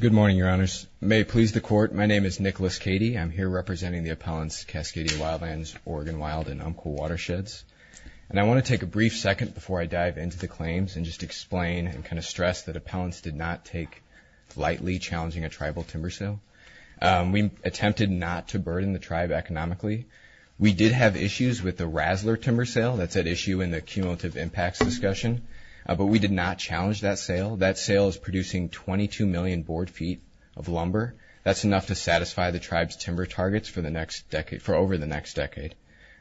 Good morning, Your Honors. May it please the Court, my name is Nicholas Cady. I'm here representing the appellants Cascadia Wildlands, Oregon Wild and Umpqua Watersheds. And I want to take a brief second before I dive into the claims and just explain and kind of stress that appellants did not take lightly challenging a tribal timber sale. We attempted not to burden the tribe economically. We did have issues with the Rasler timber sale, that's we did not challenge that sale. That sale is producing 22 million board feet of lumber. That's enough to satisfy the tribe's timber targets for the next decade, for over the next decade.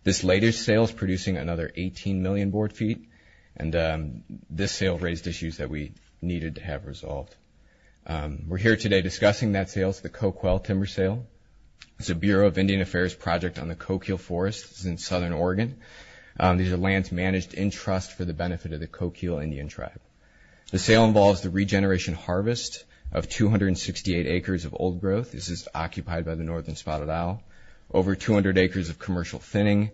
This latest sale is producing another 18 million board feet and this sale raised issues that we needed to have resolved. We're here today discussing that sale, it's the Coquille timber sale. It's a Bureau of Indian Affairs project on the Coquille Forest in Southern Oregon. These are lands managed in trust for the benefit of the Coquille Indian tribe. The sale involves the regeneration harvest of 268 acres of old growth, this is occupied by the Northern Spotted Owl, over 200 acres of commercial thinning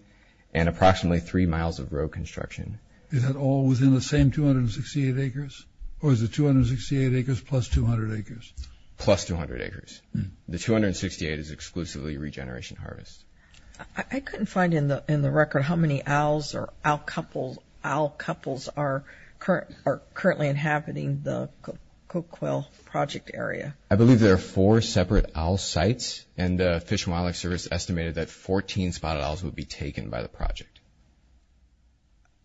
and approximately three miles of road construction. Is that all within the same 268 acres? Or is it 268 acres plus 200 acres? Plus 200 acres. The 268 is exclusively regeneration harvest. I couldn't find in the record how many owls or owl couples are currently inhabiting the Coquille project area. I believe there are four separate owl sites and the Fish and Wildlife Service estimated that 14 spotted owls would be taken by the project.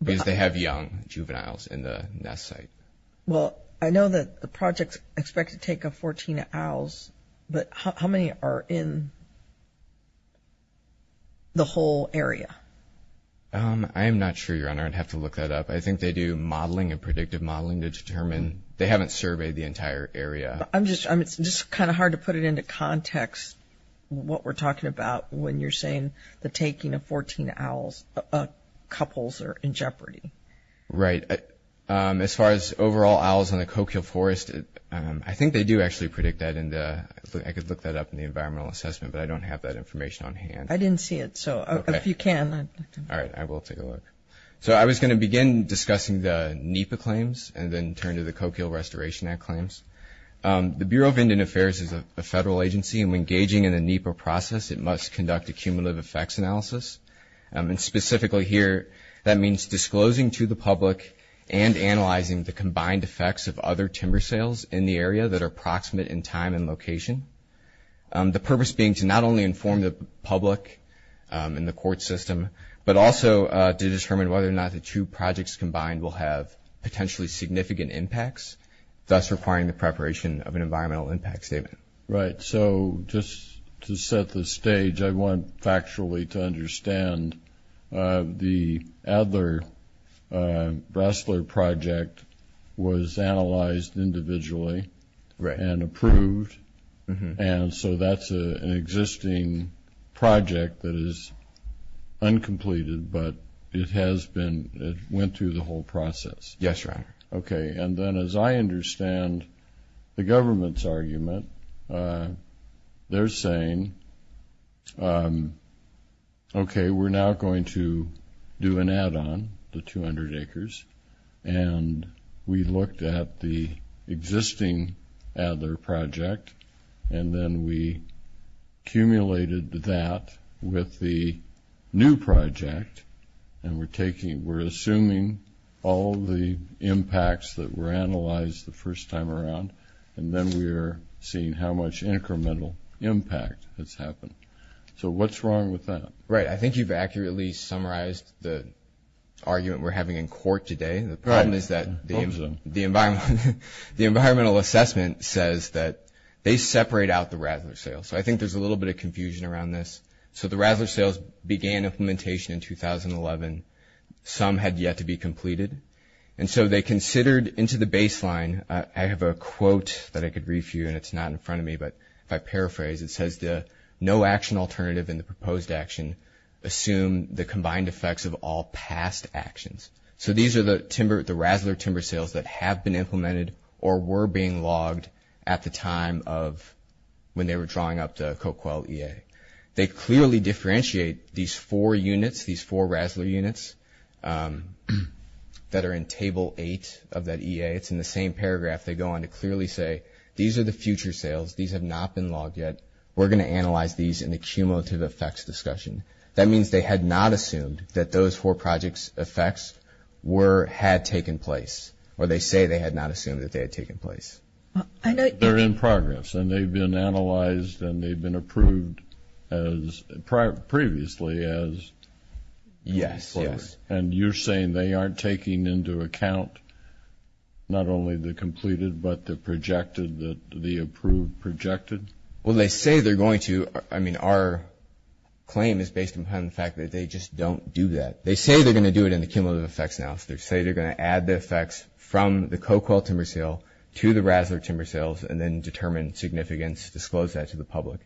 Because they have young juveniles in the nest site. Well, I know that the project expects to take 14 owls, but how many are in the whole area? I'm not sure, Your Honor, I'd have to look that up. I think they do modeling and predictive modeling to determine. They haven't surveyed the entire area. I'm just, it's just kind of hard to put it into context, what we're talking about when you're saying the taking of 14 owls of couples are in jeopardy. Right. As far as overall owls in the Coquille forest, I think they do actually predict that in the, I could look that up in the environmental assessment, but I don't have that information on hand. I didn't see it. So if you can. All right, I will take a look. So I was going to begin discussing the NEPA claims and then turn to the Coquille Restoration Act claims. The Bureau of Indian Affairs is a federal agency and when gauging in the NEPA process, it must conduct a cumulative effects analysis. And specifically here, that means disclosing to the public and analyzing the combined effects of other timber sales in the area that are approximate in time and location. The purpose being to not only inform the public in the court system, but also to determine whether or not the two projects combined will have potentially significant impacts, thus requiring the preparation of an environmental impact statement. Right. So just to set the stage, I want factually to understand the Adler-Rassler project was analyzed individually and approved. And so that's an existing project that is uncompleted, but it has been, it went through the whole process. Yes, Your Honor. Okay. And then as I understand the government's argument, they're saying, okay, we're now going to do an add-on, the 200 acres. And we looked at the existing Adler project and then we accumulated that with the new project. And we're taking, we're assuming all the impacts that were analyzed the first time around. And then we're seeing how much incremental impact has happened. So what's wrong with that? Right. I think you've accurately summarized the argument we're having in court today. The problem is that the environmental assessment says that they separate out the Rassler sales. So I think there's a little bit of confusion around this. So the Rassler sales began implementation in 2011. Some had yet to be completed. And so they considered into the baseline, I have a quote that I could read for you and it's not in front of me, but if I paraphrase, it says the no action alternative in the proposed action, assume the combined effects of all past actions. So these are the timber, the Rassler timber sales that have been implemented or were being logged at the time of when they were drawing up the Coquel EA. They clearly differentiate these four units, these four Rassler units that are in table eight of that EA. It's in the same paragraph. They go on to clearly say, these are the future sales. These have not been logged yet. We're going to analyze these in the cumulative effects discussion. That means they had not assumed that those four projects effects were, had taken place, or they say they had not assumed that they had taken place. I know they're in progress and they've been analyzed and they've been approved as previously as yes. Yes. And you're saying they aren't taking into account not only the completed, but the projected, the approved projected? Well, they say they're going to, I mean, our claim is based upon the fact that they just don't do that. They say they're going to do it in the cumulative effects analysis. They say they're going to add the effects from the Coquel timber sale to the Rassler timber sales and then determine significance, disclose that to the public.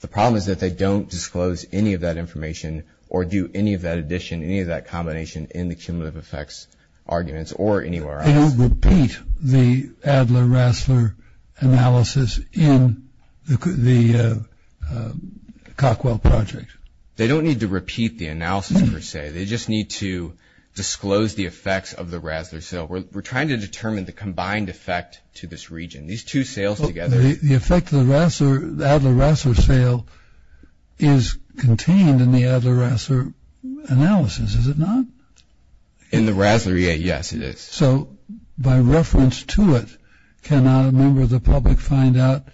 The problem is that they don't disclose any of that information or do any of that addition, any of that combination in the cumulative effects arguments or anywhere else. They don't repeat the Adler-Rassler analysis in the Coquel project. They don't need to repeat the analysis per se. They just need to disclose the effects of the Rassler sale. We're trying to determine the combined effect to this region. These two sales together. The effect of the Rassler, the Adler-Rassler sale is contained in the Adler-Rassler analysis, is it not? In the Rassler EA, yes, it is. So, by reference to it, can a member of the public find out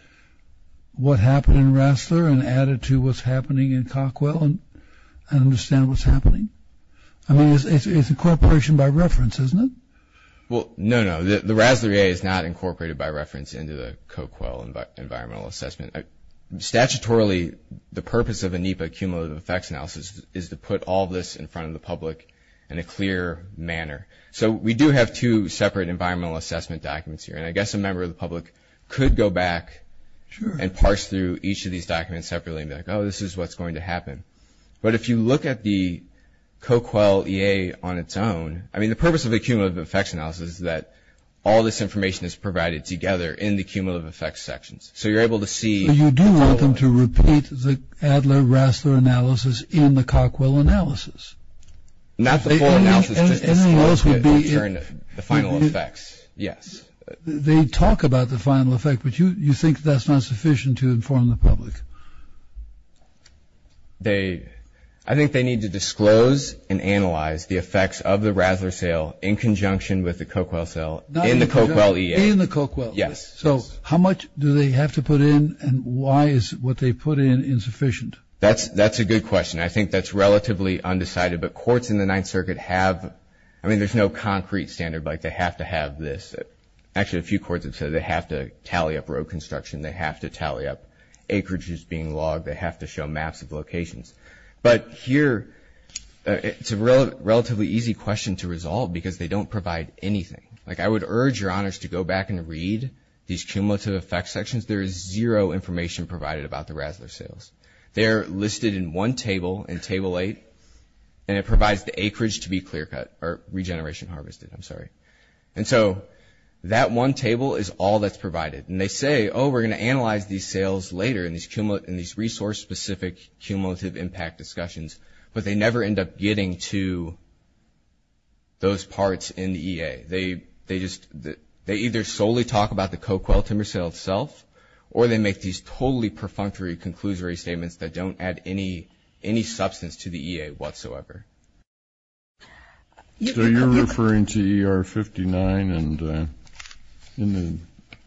what happened in Rassler and add it to what's happening in Coquel and understand what's happening? I mean, it's incorporation by reference, isn't it? Well, no, no. The Rassler EA is not incorporated by reference into the Coquel environmental assessment. Statutorily, the purpose of a NEPA cumulative effects analysis is to put all of this in front of the public in a clear manner. So, we do have two separate environmental assessment documents here. And I guess a member of the public could go back and parse through each of these documents separately and be like, oh, this is what's going to happen. But if you look at the Coquel EA on its own, I mean, the purpose of a cumulative effects analysis is that all this information is provided together in the cumulative effects sections. So, you're able to see... Not the full analysis, just the final effects. Yes. They talk about the final effect, but you think that's not sufficient to inform the public? They... I think they need to disclose and analyze the effects of the Rassler sale in conjunction with the Coquel sale in the Coquel EA. In the Coquel. Yes. So, how much do they have to put in and why is what they put in insufficient? That's a good question. I think that's relatively undecided, but courts in the Ninth Circuit have... I mean, there's no concrete standard, like they have to have this. Actually, a few courts have said they have to tally up road construction, they have to tally up acreages being logged, they have to show maps of locations. But here, it's a relatively easy question to resolve because they don't provide anything. Like, I would urge your honors to go back and read these cumulative effects sections. There is zero information provided about the sale. They're listed in one table in Table 8, and it provides the acreage to be clear cut, or regeneration harvested, I'm sorry. And so, that one table is all that's provided. And they say, oh, we're going to analyze these sales later in these resource-specific cumulative impact discussions, but they never end up getting to those parts in the EA. They either solely talk about the Coquel timber sale itself, or they make these totally perfunctory conclusory statements that don't add any substance to the EA whatsoever. So, you're referring to ER 59 and the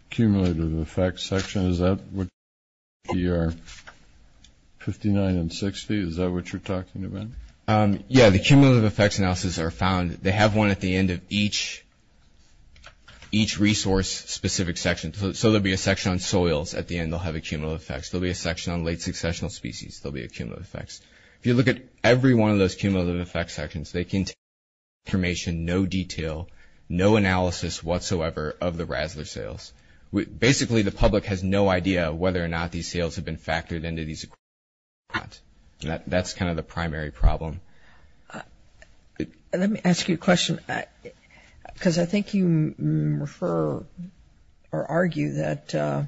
cumulative effects section? Is that what you're talking about? Yeah, the cumulative effects analysis are found... they have one at the end of each resource-specific section. So, there will be a section on soils at the end that will have a cumulative effects. There will be a section on late successional species. There will be a cumulative effects. If you look at every one of those cumulative effects sections, they contain information, no detail, no analysis whatsoever of the Rasler sales. Basically, the public has no idea whether or not these sales have been factored into these equipment or not. That's kind of the primary problem. Let me ask you a question, because I think you refer or argue that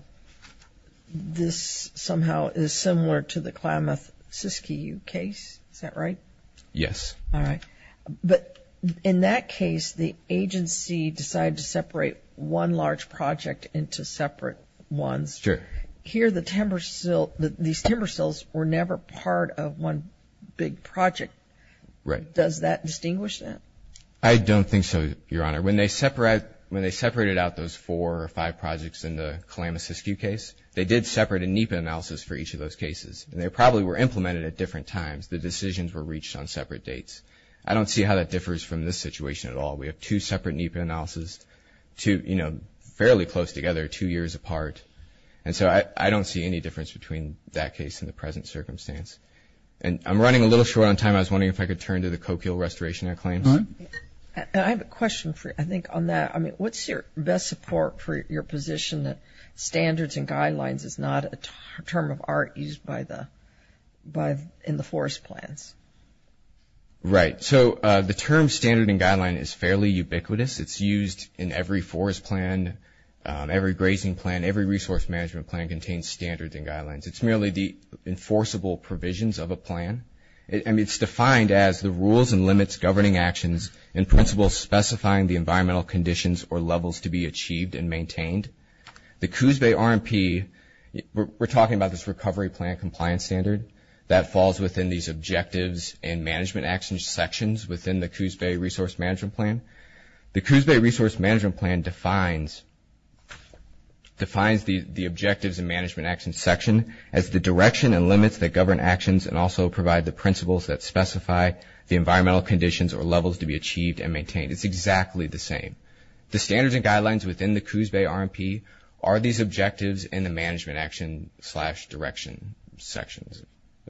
this somehow is similar to the Klamath-Siskiyou case. Is that right? Yes. All right. But in that case, the agency decided to separate one large project into separate ones. Sure. Here, these timber sales were never part of one big project. Right. Does that distinguish that? I don't think so, Your Honor. When they separated out those four or five projects in the Klamath-Siskiyou case, they did separate a NEPA analysis for each of those cases, and they probably were implemented at different times. The decisions were reached on separate dates. I don't see how that differs from this situation at all. We have two separate NEPA analysis, fairly close together, two years apart. And so I don't see any difference between that case and the present circumstance. And I'm running a little short on time. I was wondering if I could turn to the Coquille restoration claims. Go ahead. I have a question, I think, on that. I mean, what's your best support for your position that standards and guidelines is not a term of art used in the forest plans? Right. So the term standard and guideline is fairly ubiquitous. It's used in every forest plan, every grazing plan, every resource management plan contains standards and guidelines. It's merely the enforceable provisions of a plan. I mean, it's defined as the rules and limits governing actions and principles specifying the environmental conditions or levels to be achieved and maintained. The Coos Bay RMP, we're talking about this recovery plan compliance standard that falls within these objectives and management action sections within the Coos Bay Resource Management Plan. The Coos Bay Resource Management Plan defines the objectives and management action section as the direction and limits that govern actions and also provide the principles that specify the environmental conditions or levels to be achieved and maintained. It's exactly the same. The standards and guidelines within the direction sections.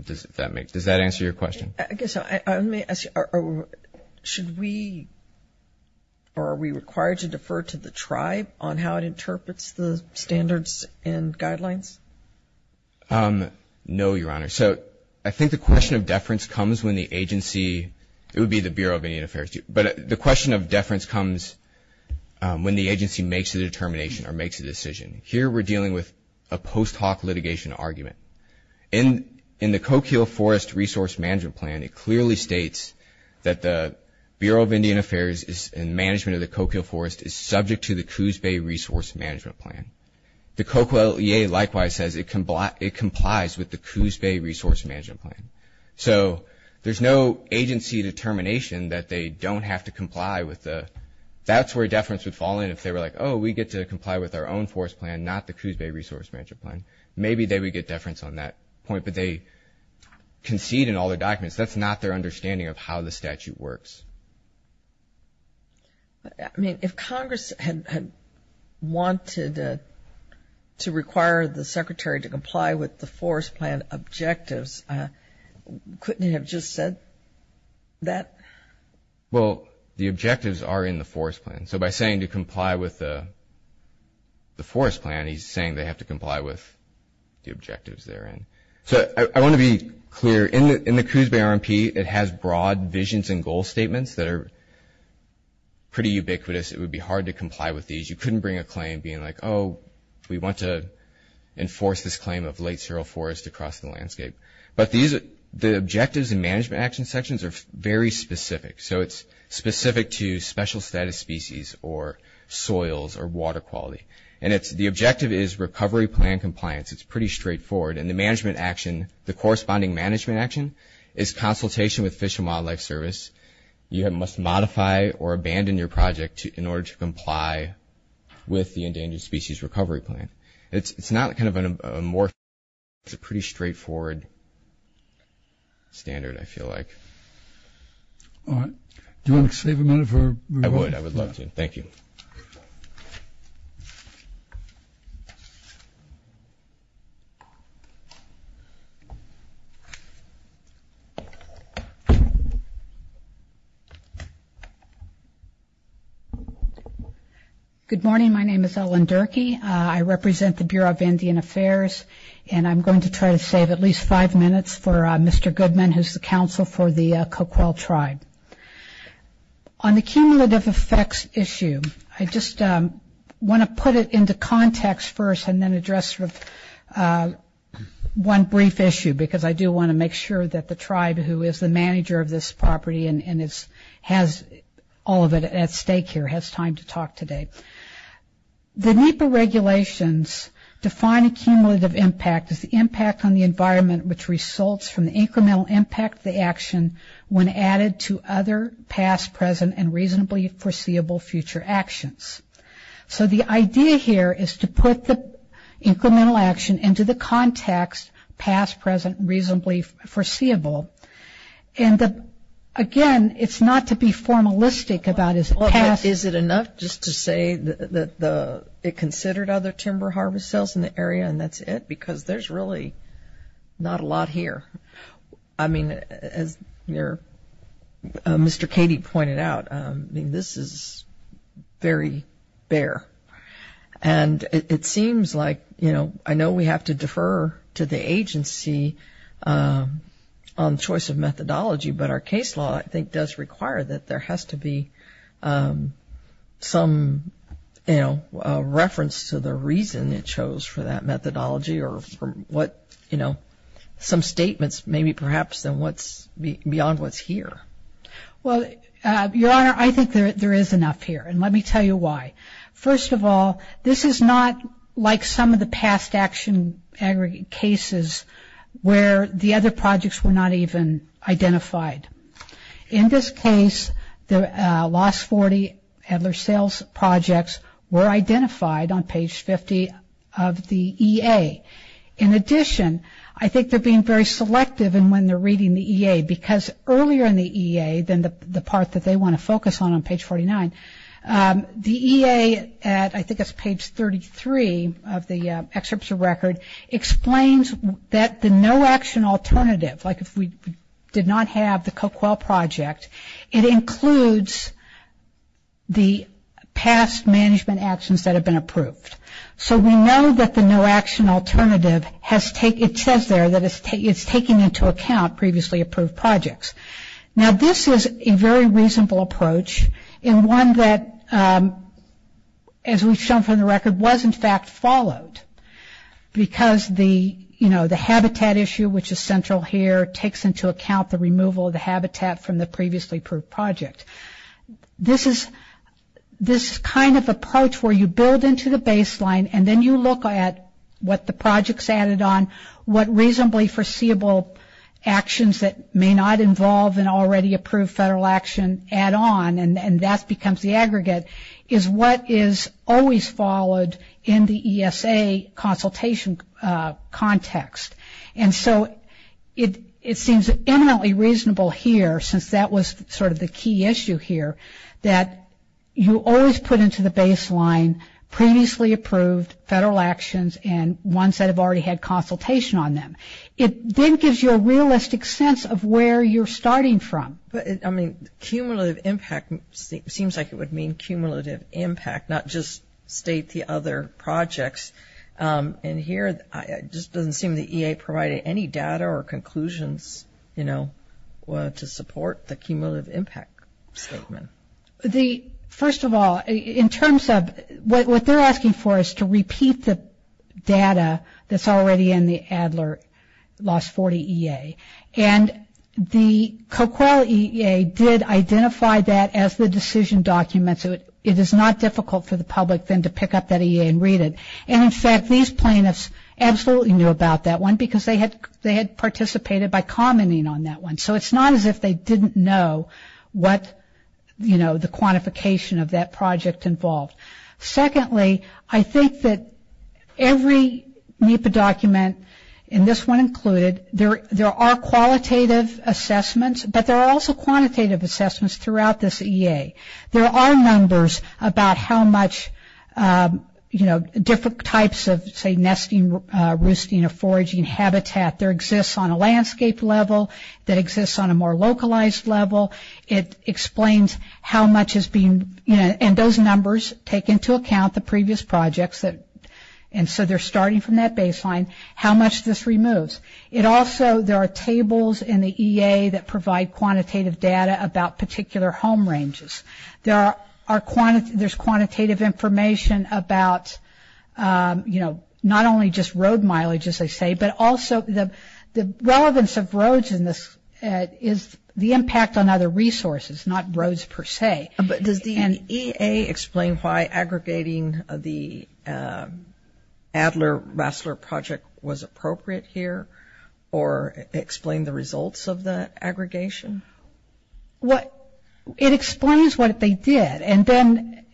Does that answer your question? I guess so. I may ask you, should we or are we required to defer to the tribe on how it interprets the standards and guidelines? No, Your Honor. So I think the question of deference comes when the agency, it would be the Bureau of Indian Affairs, but the question of deference comes when the agency makes a mitigation argument. In the Coquille Forest Resource Management Plan, it clearly states that the Bureau of Indian Affairs and management of the Coquille Forest is subject to the Coos Bay Resource Management Plan. The Coquille EA likewise says it complies with the Coos Bay Resource Management Plan. So there's no agency determination that they don't have to comply with the, that's where deference would fall in if they were like, oh, we get to comply with our own forest plan, not the Coos Bay Resource Management Plan. Maybe they would get deference on that point, but they concede in all the documents. That's not their understanding of how the statute works. I mean, if Congress had wanted to require the secretary to comply with the forest plan objectives, couldn't it have just said that? Well, the objectives are in the forest plan. So by saying to comply with the forest plan, he's saying they have to comply with the objectives therein. So I want to be clear. In the Coos Bay RMP, it has broad visions and goal statements that are pretty ubiquitous. It would be hard to comply with these. You couldn't bring a claim being like, oh, we want to enforce this claim of late The management action sections are very specific. So it's specific to special status species or soils or water quality. And the objective is recovery plan compliance. It's pretty straightforward. And the management action, the corresponding management action is consultation with Fish and Wildlife Service. You must modify or abandon your project in order to comply with the Endangered Species Recovery Plan. It's not kind of a morph. It's a pretty straightforward standard, I feel like. All right. Do you want to save a minute for? I would. I would love to. Thank you. Good morning. My name is Ellen Durkee. I represent the Bureau of Indian Affairs. And I'm going to try to give at least five minutes for Mr. Goodman, who's the counsel for the Coquille Tribe. On the cumulative effects issue, I just want to put it into context first and then address sort of one brief issue, because I do want to make sure that the tribe who is the manager of this property and has all of it at stake here has time to talk today. The NEPA regulations define accumulative impact as the impact on the environment which results from the incremental impact of the action when added to other past, present, and reasonably foreseeable future actions. So the idea here is to put the incremental action into the context, past, present, and reasonably foreseeable. And again, it's not to be formalistic about his past... Is it enough just to say that it considered other timber harvest cells in the area and that's it? Because there's really not a lot here. I mean, as Mr. Cady pointed out, this is very bare. And it seems like, you know, I know we have to defer to the agency on choice of methodology, but our case law, I think, does require that there has to be some, you know, reference to the reason it chose for that methodology or some other reason. You know, some statements maybe perhaps than what's beyond what's here. Well, Your Honor, I think there is enough here, and let me tell you why. First of all, this is not like some of the past action cases where the other projects were not even identified. In this case, the last 40 Adler sales projects were identified. In addition, I think they're being very selective in when they're reading the EA, because earlier in the EA, then the part that they want to focus on on page 49, the EA at, I think it's page 33 of the excerpts of record, explains that the no action alternative, like if we did not have the Coquel project, it includes the past management actions that have been taken. It says there that it's taken into account previously approved projects. Now, this is a very reasonable approach, and one that, as we've shown from the record, was in fact followed, because the, you know, the habitat issue, which is central here, takes into account the removal of the habitat from the previously approved project. This is kind of approach where you build into the aggregate, and it's pointed on what reasonably foreseeable actions that may not involve an already approved federal action add on, and that becomes the aggregate, is what is always followed in the ESA consultation context. And so it seems eminently reasonable here, since that was sort of the key issue here, that you always put into the baseline previously approved federal actions and ones that have already had consultation on them. It then gives you a realistic sense of where you're starting from. But, I mean, cumulative impact seems like it would mean cumulative impact, not just state the other projects. And here, it just doesn't seem the EA provided any data or conclusions, you know, to support the cumulative impact statement. The, first of all, in terms of, what they're asking for is to repeat the data that's already in the Adler Lost 40 EA. And the CoQEL EA did identify that as the decision document, so it is not difficult for the public then to pick up that EA and read it. And, in fact, these plaintiffs absolutely knew about that one, because they had participated by commenting on that one. So it's not as if they didn't know what the, you know, the quantification of that project involved. Secondly, I think that every NEPA document, and this one included, there are qualitative assessments, but there are also quantitative assessments throughout this EA. There are numbers about how much, you know, different types of, say, nesting, roosting, or foraging habitat there exists on a landscape level, that exists on a more localized level. It explains how much has been, you know, and those numbers take into account the previous projects, and so they're starting from that baseline, how much this removes. It also, there are tables in the EA that provide quantitative data about particular home ranges. There are, there's quantitative information about, you know, not only just road mileage, as they say, but also the relevance of roads in this, is the impact on other resources, not roads per se. But does the EA explain why aggregating the Adler-Rassler project was appropriate here, or explain the results of the aggregation? Well, it explains what they did. And then,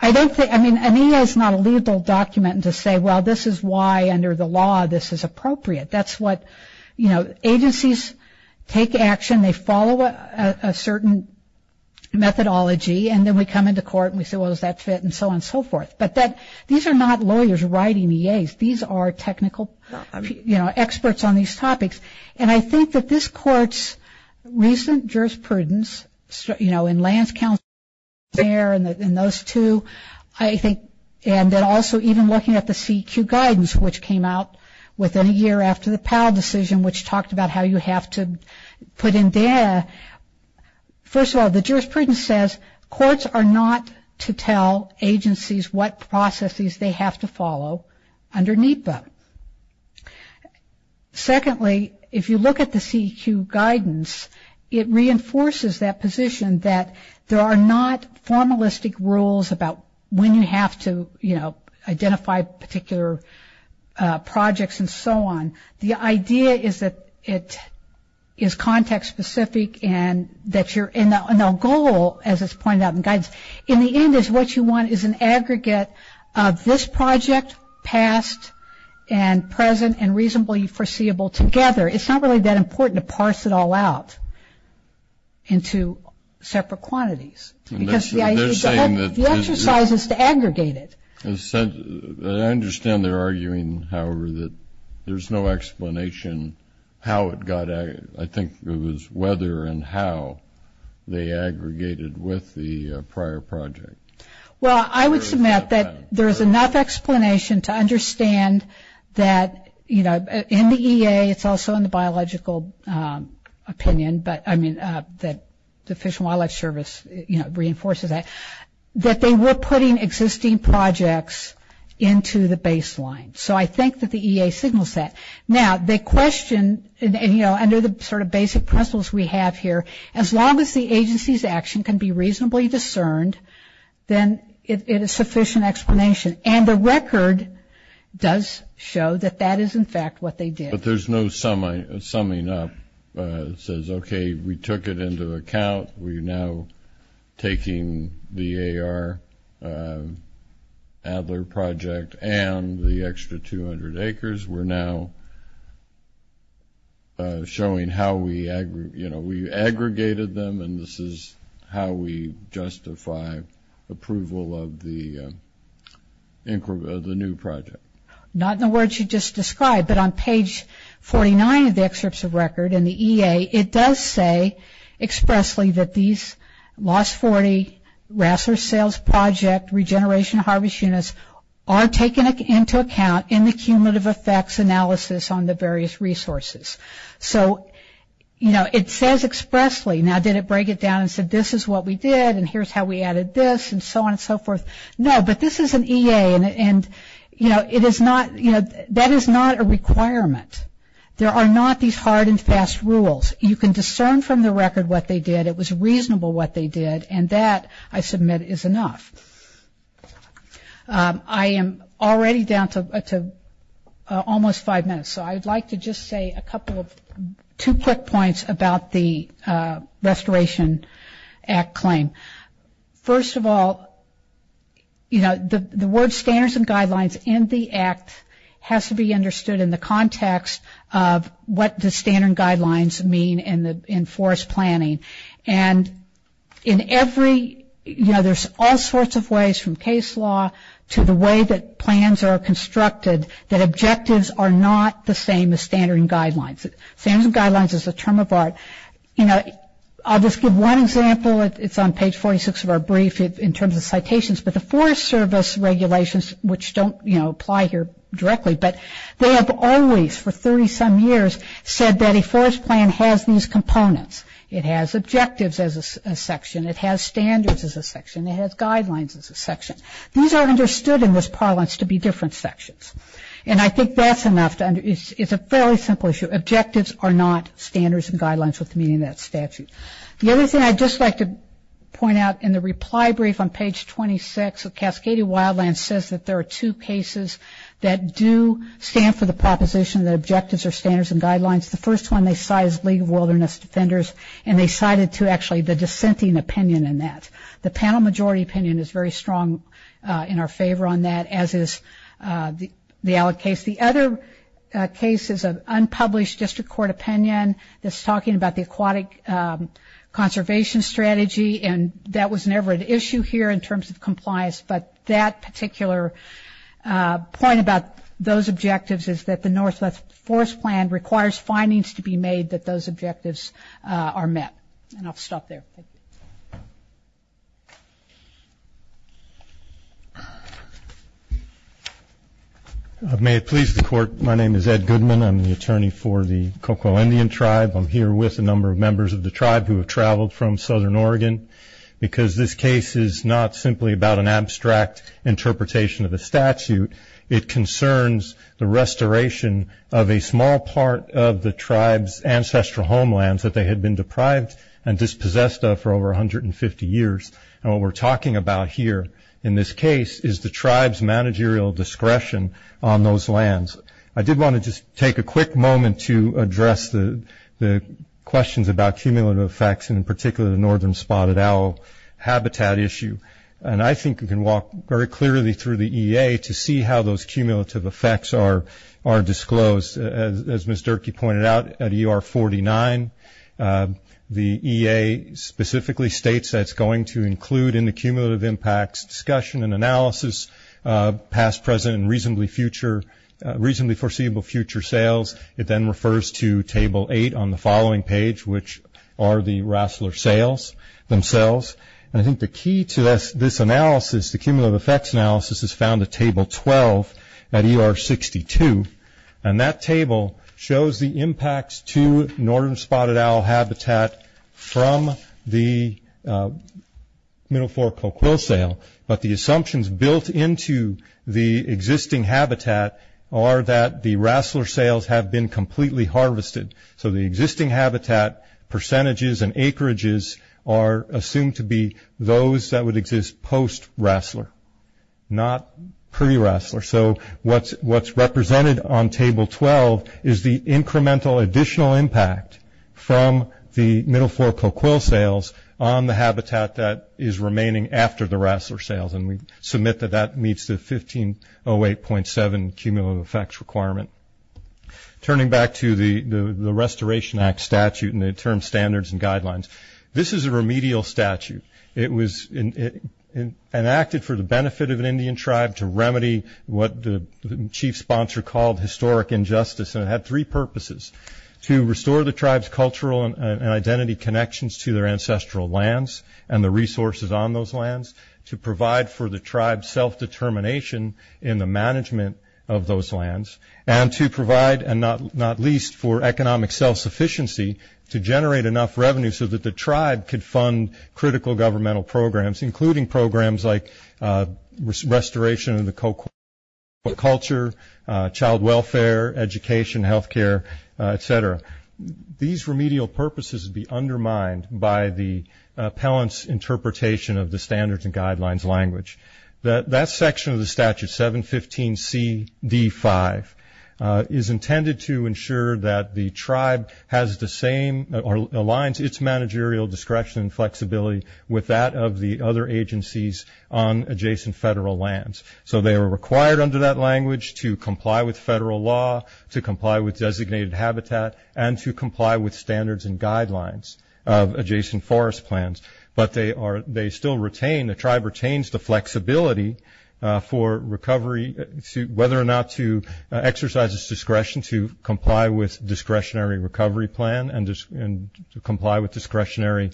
I don't think, I mean, an EA is not a legal document to say, well, this is why, under the law, this is why. We follow a certain methodology, and then we come into court, and we say, well, does that fit, and so on and so forth. But these are not lawyers writing EAs. These are technical, you know, experts on these topics. And I think that this court's recent jurisprudence, you know, in lands council, and those two, I think, and then also even looking at the CEQ guidance, which came out within a year after the Powell decision, which talked about how you have to put in data. First of all, the jurisprudence says courts are not to tell agencies what processes they have to follow underneath them. Secondly, if you look at the CEQ guidance, it reinforces that position that there are not formalistic rules about when you have to, you know, identify particular projects, and so on. The idea is that you have to have a process, and the idea is that it is context-specific, and that your goal, as it's pointed out in the guidance, in the end is what you want is an aggregate of this project, past and present, and reasonably foreseeable together. It's not really that important to parse it all out into separate quantities, because the exercise is to aggregate it. I understand they're arguing, however, that there's no explanation how it got aggregated. I think it was whether and how they aggregated with the prior project. Well, I would submit that there is enough explanation to understand that, you know, in the EA, it's also in the biological opinion, but, I mean, that the Fish and Wildlife Service, you know, reinforces that, that they were putting existing projects together, and that they were putting those projects into the baseline. So I think that the EA signals that. Now, they question, you know, under the sort of basic principles we have here, as long as the agency's action can be reasonably discerned, then it is sufficient explanation, and the record does show that that is, in fact, what they did. But there's no summing up that says, okay, we took it into account, we're now taking the AR as an aggregate, and we're taking the Adler project and the extra 200 acres, we're now showing how we, you know, we aggregated them, and this is how we justify approval of the new project. Not in the words you just described, but on page 49 of the excerpts of record in the EA, it does say expressly that these 40 Rassler Sales Project Regeneration Harvest Units are taken into account in the cumulative effects analysis on the various resources. So, you know, it says expressly, now did it break it down and say this is what we did, and here's how we added this, and so on and so forth? No, but this is an EA, and, you know, it is not, you know, that is not a requirement. There are not these hard and fast rules. You can discern from the record what they did, it was reasonable what they did, and that, I submit, is enough. I am already down to almost five minutes, so I would like to just say a couple of, two quick points about the Restoration Act claim. First of all, you know, the word standards and guidelines in the Act has to be understood in the context of what the standard and guidelines mean in forest planning, and in every, you know, there's all sorts of ways, from case law to the way that plans are constructed, that objectives are not the same as standard and guidelines. Standards and guidelines is a term of art. You know, I'll just give one example, it's on page 46 of our brief, in terms of citations, but the Forest Service regulations, which don't, you know, apply here directly, but they have always, for 30-some years, said that if a forest was to be restored, it would have to be restored in accordance with the standards and guidelines of the Act. So, the forest plan has these components. It has objectives as a section, it has standards as a section, it has guidelines as a section. These are understood in this parlance to be different sections, and I think that's enough to, it's a fairly simple issue. Objectives are not standards and guidelines with meaning in that statute. The other thing I'd just like to point out, in the reply brief on page 26 of Cascadia Wildlands, says that there are two cases that do stand for the proposition that objectives are standards and guidelines. The first one they cite is League of Wilderness Defenders, and they cited, too, actually, the dissenting opinion in that. The panel majority opinion is very strong in our favor on that, as is the ALEC case. The other case is an unpublished district court opinion that's talking about the Aquatic Conservation Act. It's a conservation strategy, and that was never an issue here in terms of compliance, but that particular point about those objectives is that the Northwest Forest Plan requires findings to be made that those objectives are met. And I'll stop there. Ed Goodman May it please the Court, my name is Ed Goodman. I'm the attorney for the Cocoa Indian Tribe. I'm here with a number of members of the tribe who have traveled from southern Oregon, because this case is not simply about an abstract interpretation of the statute. It concerns the restoration of a small part of the tribe's ancestral homelands that they had been deprived and dispossessed of for over 150 years. And what we're talking about here in this case is the tribe's managerial discretion on those lands. I did want to just take a quick moment to address the questions about cumulative effects, and in particular the northern spotted owl habitat issue. And I think we can walk very clearly through the EA to see how those cumulative effects are disclosed. As Ms. Durkee pointed out, at ER 49, the EA specifically states that it's going to include in the cumulative impacts discussion and analysis past, present, and reasonably foreseeable future sales. It then refers to table eight on the following page, which are the Rassler sales themselves. And I think the key to this analysis, the cumulative effects analysis is found at table 12 at ER 62. And that table shows the impacts to northern spotted owl habitat from the middle floor Coquille sale. But the assumptions built into the existing habitat are that the Rassler sales have been completely harvested. So the existing habitat percentages and acreages are assumed to be those that would exist post-Rassler, not pre-Rassler. So what's represented on table 12 is the incremental additional impact from the middle floor Coquille sales on the habitat that is remaining after the Rassler sales. And we submit that that meets the 1508.7 cumulative effects requirement. Turning back to the Restoration Act statute and the term standards and guidelines. This is a remedial statute. It was enacted for the benefit of an Indian tribe to remedy what the chief sponsor called historic injustice. And it had three purposes, to restore the tribe's cultural and identity connections to their ancestral lands and the resources on those lands, to provide for the tribe's self-determination in the management of those lands, and to provide, and not least, for economic self-sufficiency to generate enough revenue so that the tribe could fund critical governmental programs, including programs like restoration of the Coquille culture, child welfare, education, health care, et cetera. These remedial purposes would be undermined by the appellant's interpretation of the standards and guidelines language. That section of the statute, 715CD5, is intended to ensure that the tribe has the same or aligns its managerial discretion and flexibility with that of the other agencies on adjacent federal lands. So they are required under that language to comply with federal law, to comply with designated habitat, and to comply with standards and guidelines of adjacent forest plans. But they still retain, the tribe retains the flexibility for recovery, whether or not to exercise its discretion to comply with discretionary recovery plan and to comply with discretionary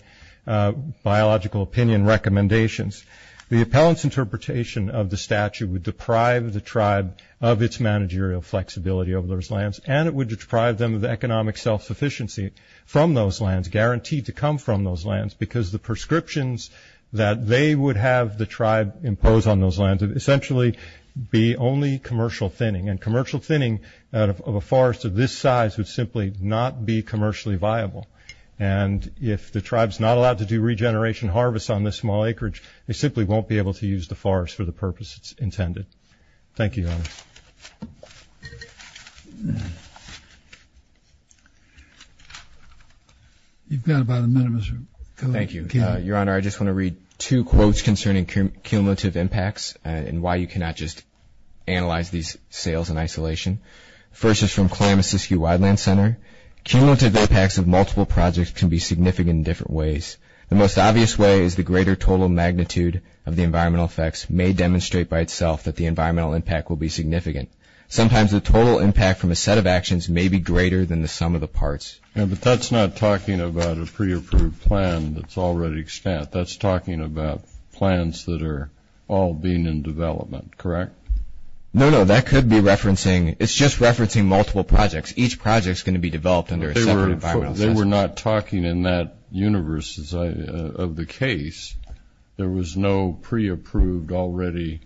biological opinion recommendations. The appellant's interpretation of the statute would deprive the tribe of its managerial flexibility over those lands, and it would deprive them of the economic self-sufficiency from those lands, guaranteed to come from those lands, because the prescriptions that they would have the tribe impose on those lands would essentially be only commercial thinning. And commercial thinning of a forest of this size would simply not be commercially viable. And if the tribe's not allowed to do regeneration harvests on this small acreage, they simply won't be able to use the forest for the purpose it's intended. Thank you, Your Honor. You've got about a minute, Mr. Kelly. Thank you. Your Honor, I just want to read two quotes concerning cumulative impacts and why you cannot just analyze these sales in isolation. The first is from Klamath-Siskiyou Wildland Center. Cumulative impacts of multiple projects can be significant in different ways. The most obvious way is the greater total magnitude of the environmental effects may demonstrate by itself that the environmental impact will be significant. Sometimes the total impact from a set of actions may be greater than the sum of the parts. But that's not talking about a pre-approved plan that's already stamped. That's talking about plans that are all being in development, correct? No, no, that could be referencing, it's just referencing multiple projects. Each project's going to be developed under a separate environmental assessment. They were not talking in that universe of the case. There was no pre-approved already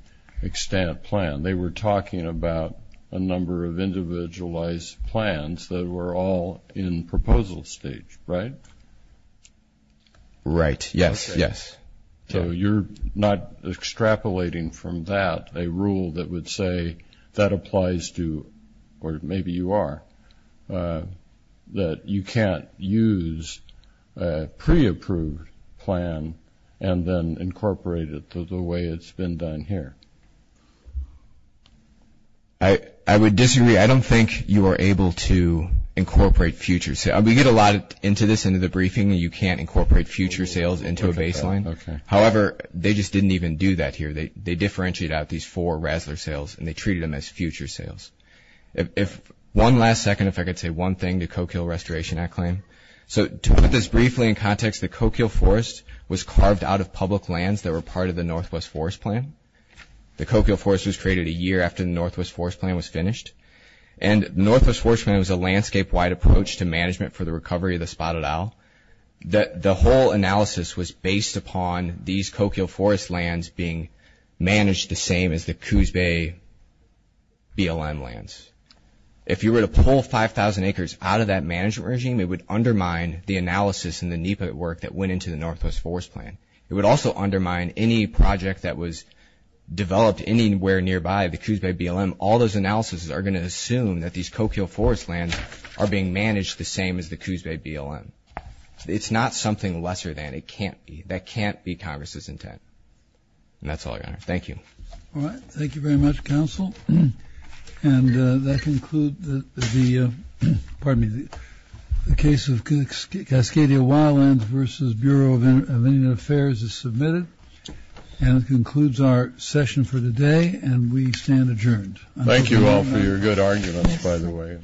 stamped plan. They were talking about a number of individualized plans that were all in proposal stage, right? Right, yes, yes. So you're not extrapolating from that a rule that would say that applies to, or maybe you are, that you can't use a pre-approved plan and then incorporate it the way it's been done here. I would disagree. I don't think you are able to incorporate future sales. We get a lot into this, into the briefing, you can't incorporate future sales into a baseline. Okay. However, they just didn't even do that here. They differentiated out these four RASLR sales and they treated them as future sales. If one last second, if I could say one thing to the Coquille Restoration Act claim. So to put this briefly in context, the Coquille Forest was carved out of public lands that were part of the Northwest Forest Plan. The Coquille Forest was created a year after the Northwest Forest Plan was finished. And the Northwest Forest Plan was a landscape-wide approach to management for the recovery of the spotted owl. The whole analysis was based upon these Coquille Forest lands being managed the same as the Coos Bay BLM lands. If you were to pull 5,000 acres out of that management regime, it would undermine the analysis and the NEPA work that went into the Northwest Forest Plan. It would also undermine any project that was developed anywhere nearby the Coos Bay BLM. All those analyses are going to assume that these Coquille Forest lands are being managed the same as the Coos Bay BLM. It's not something lesser than. It can't be. That can't be Congress's intent. And that's all, Your Honor. Thank you. All right. Thank you very much, Counsel. And that concludes the case of Cascadia Wildlands v. Bureau of Indian Affairs as submitted. And that concludes our session for today. And we stand adjourned. Thank you all for your good arguments, by the way.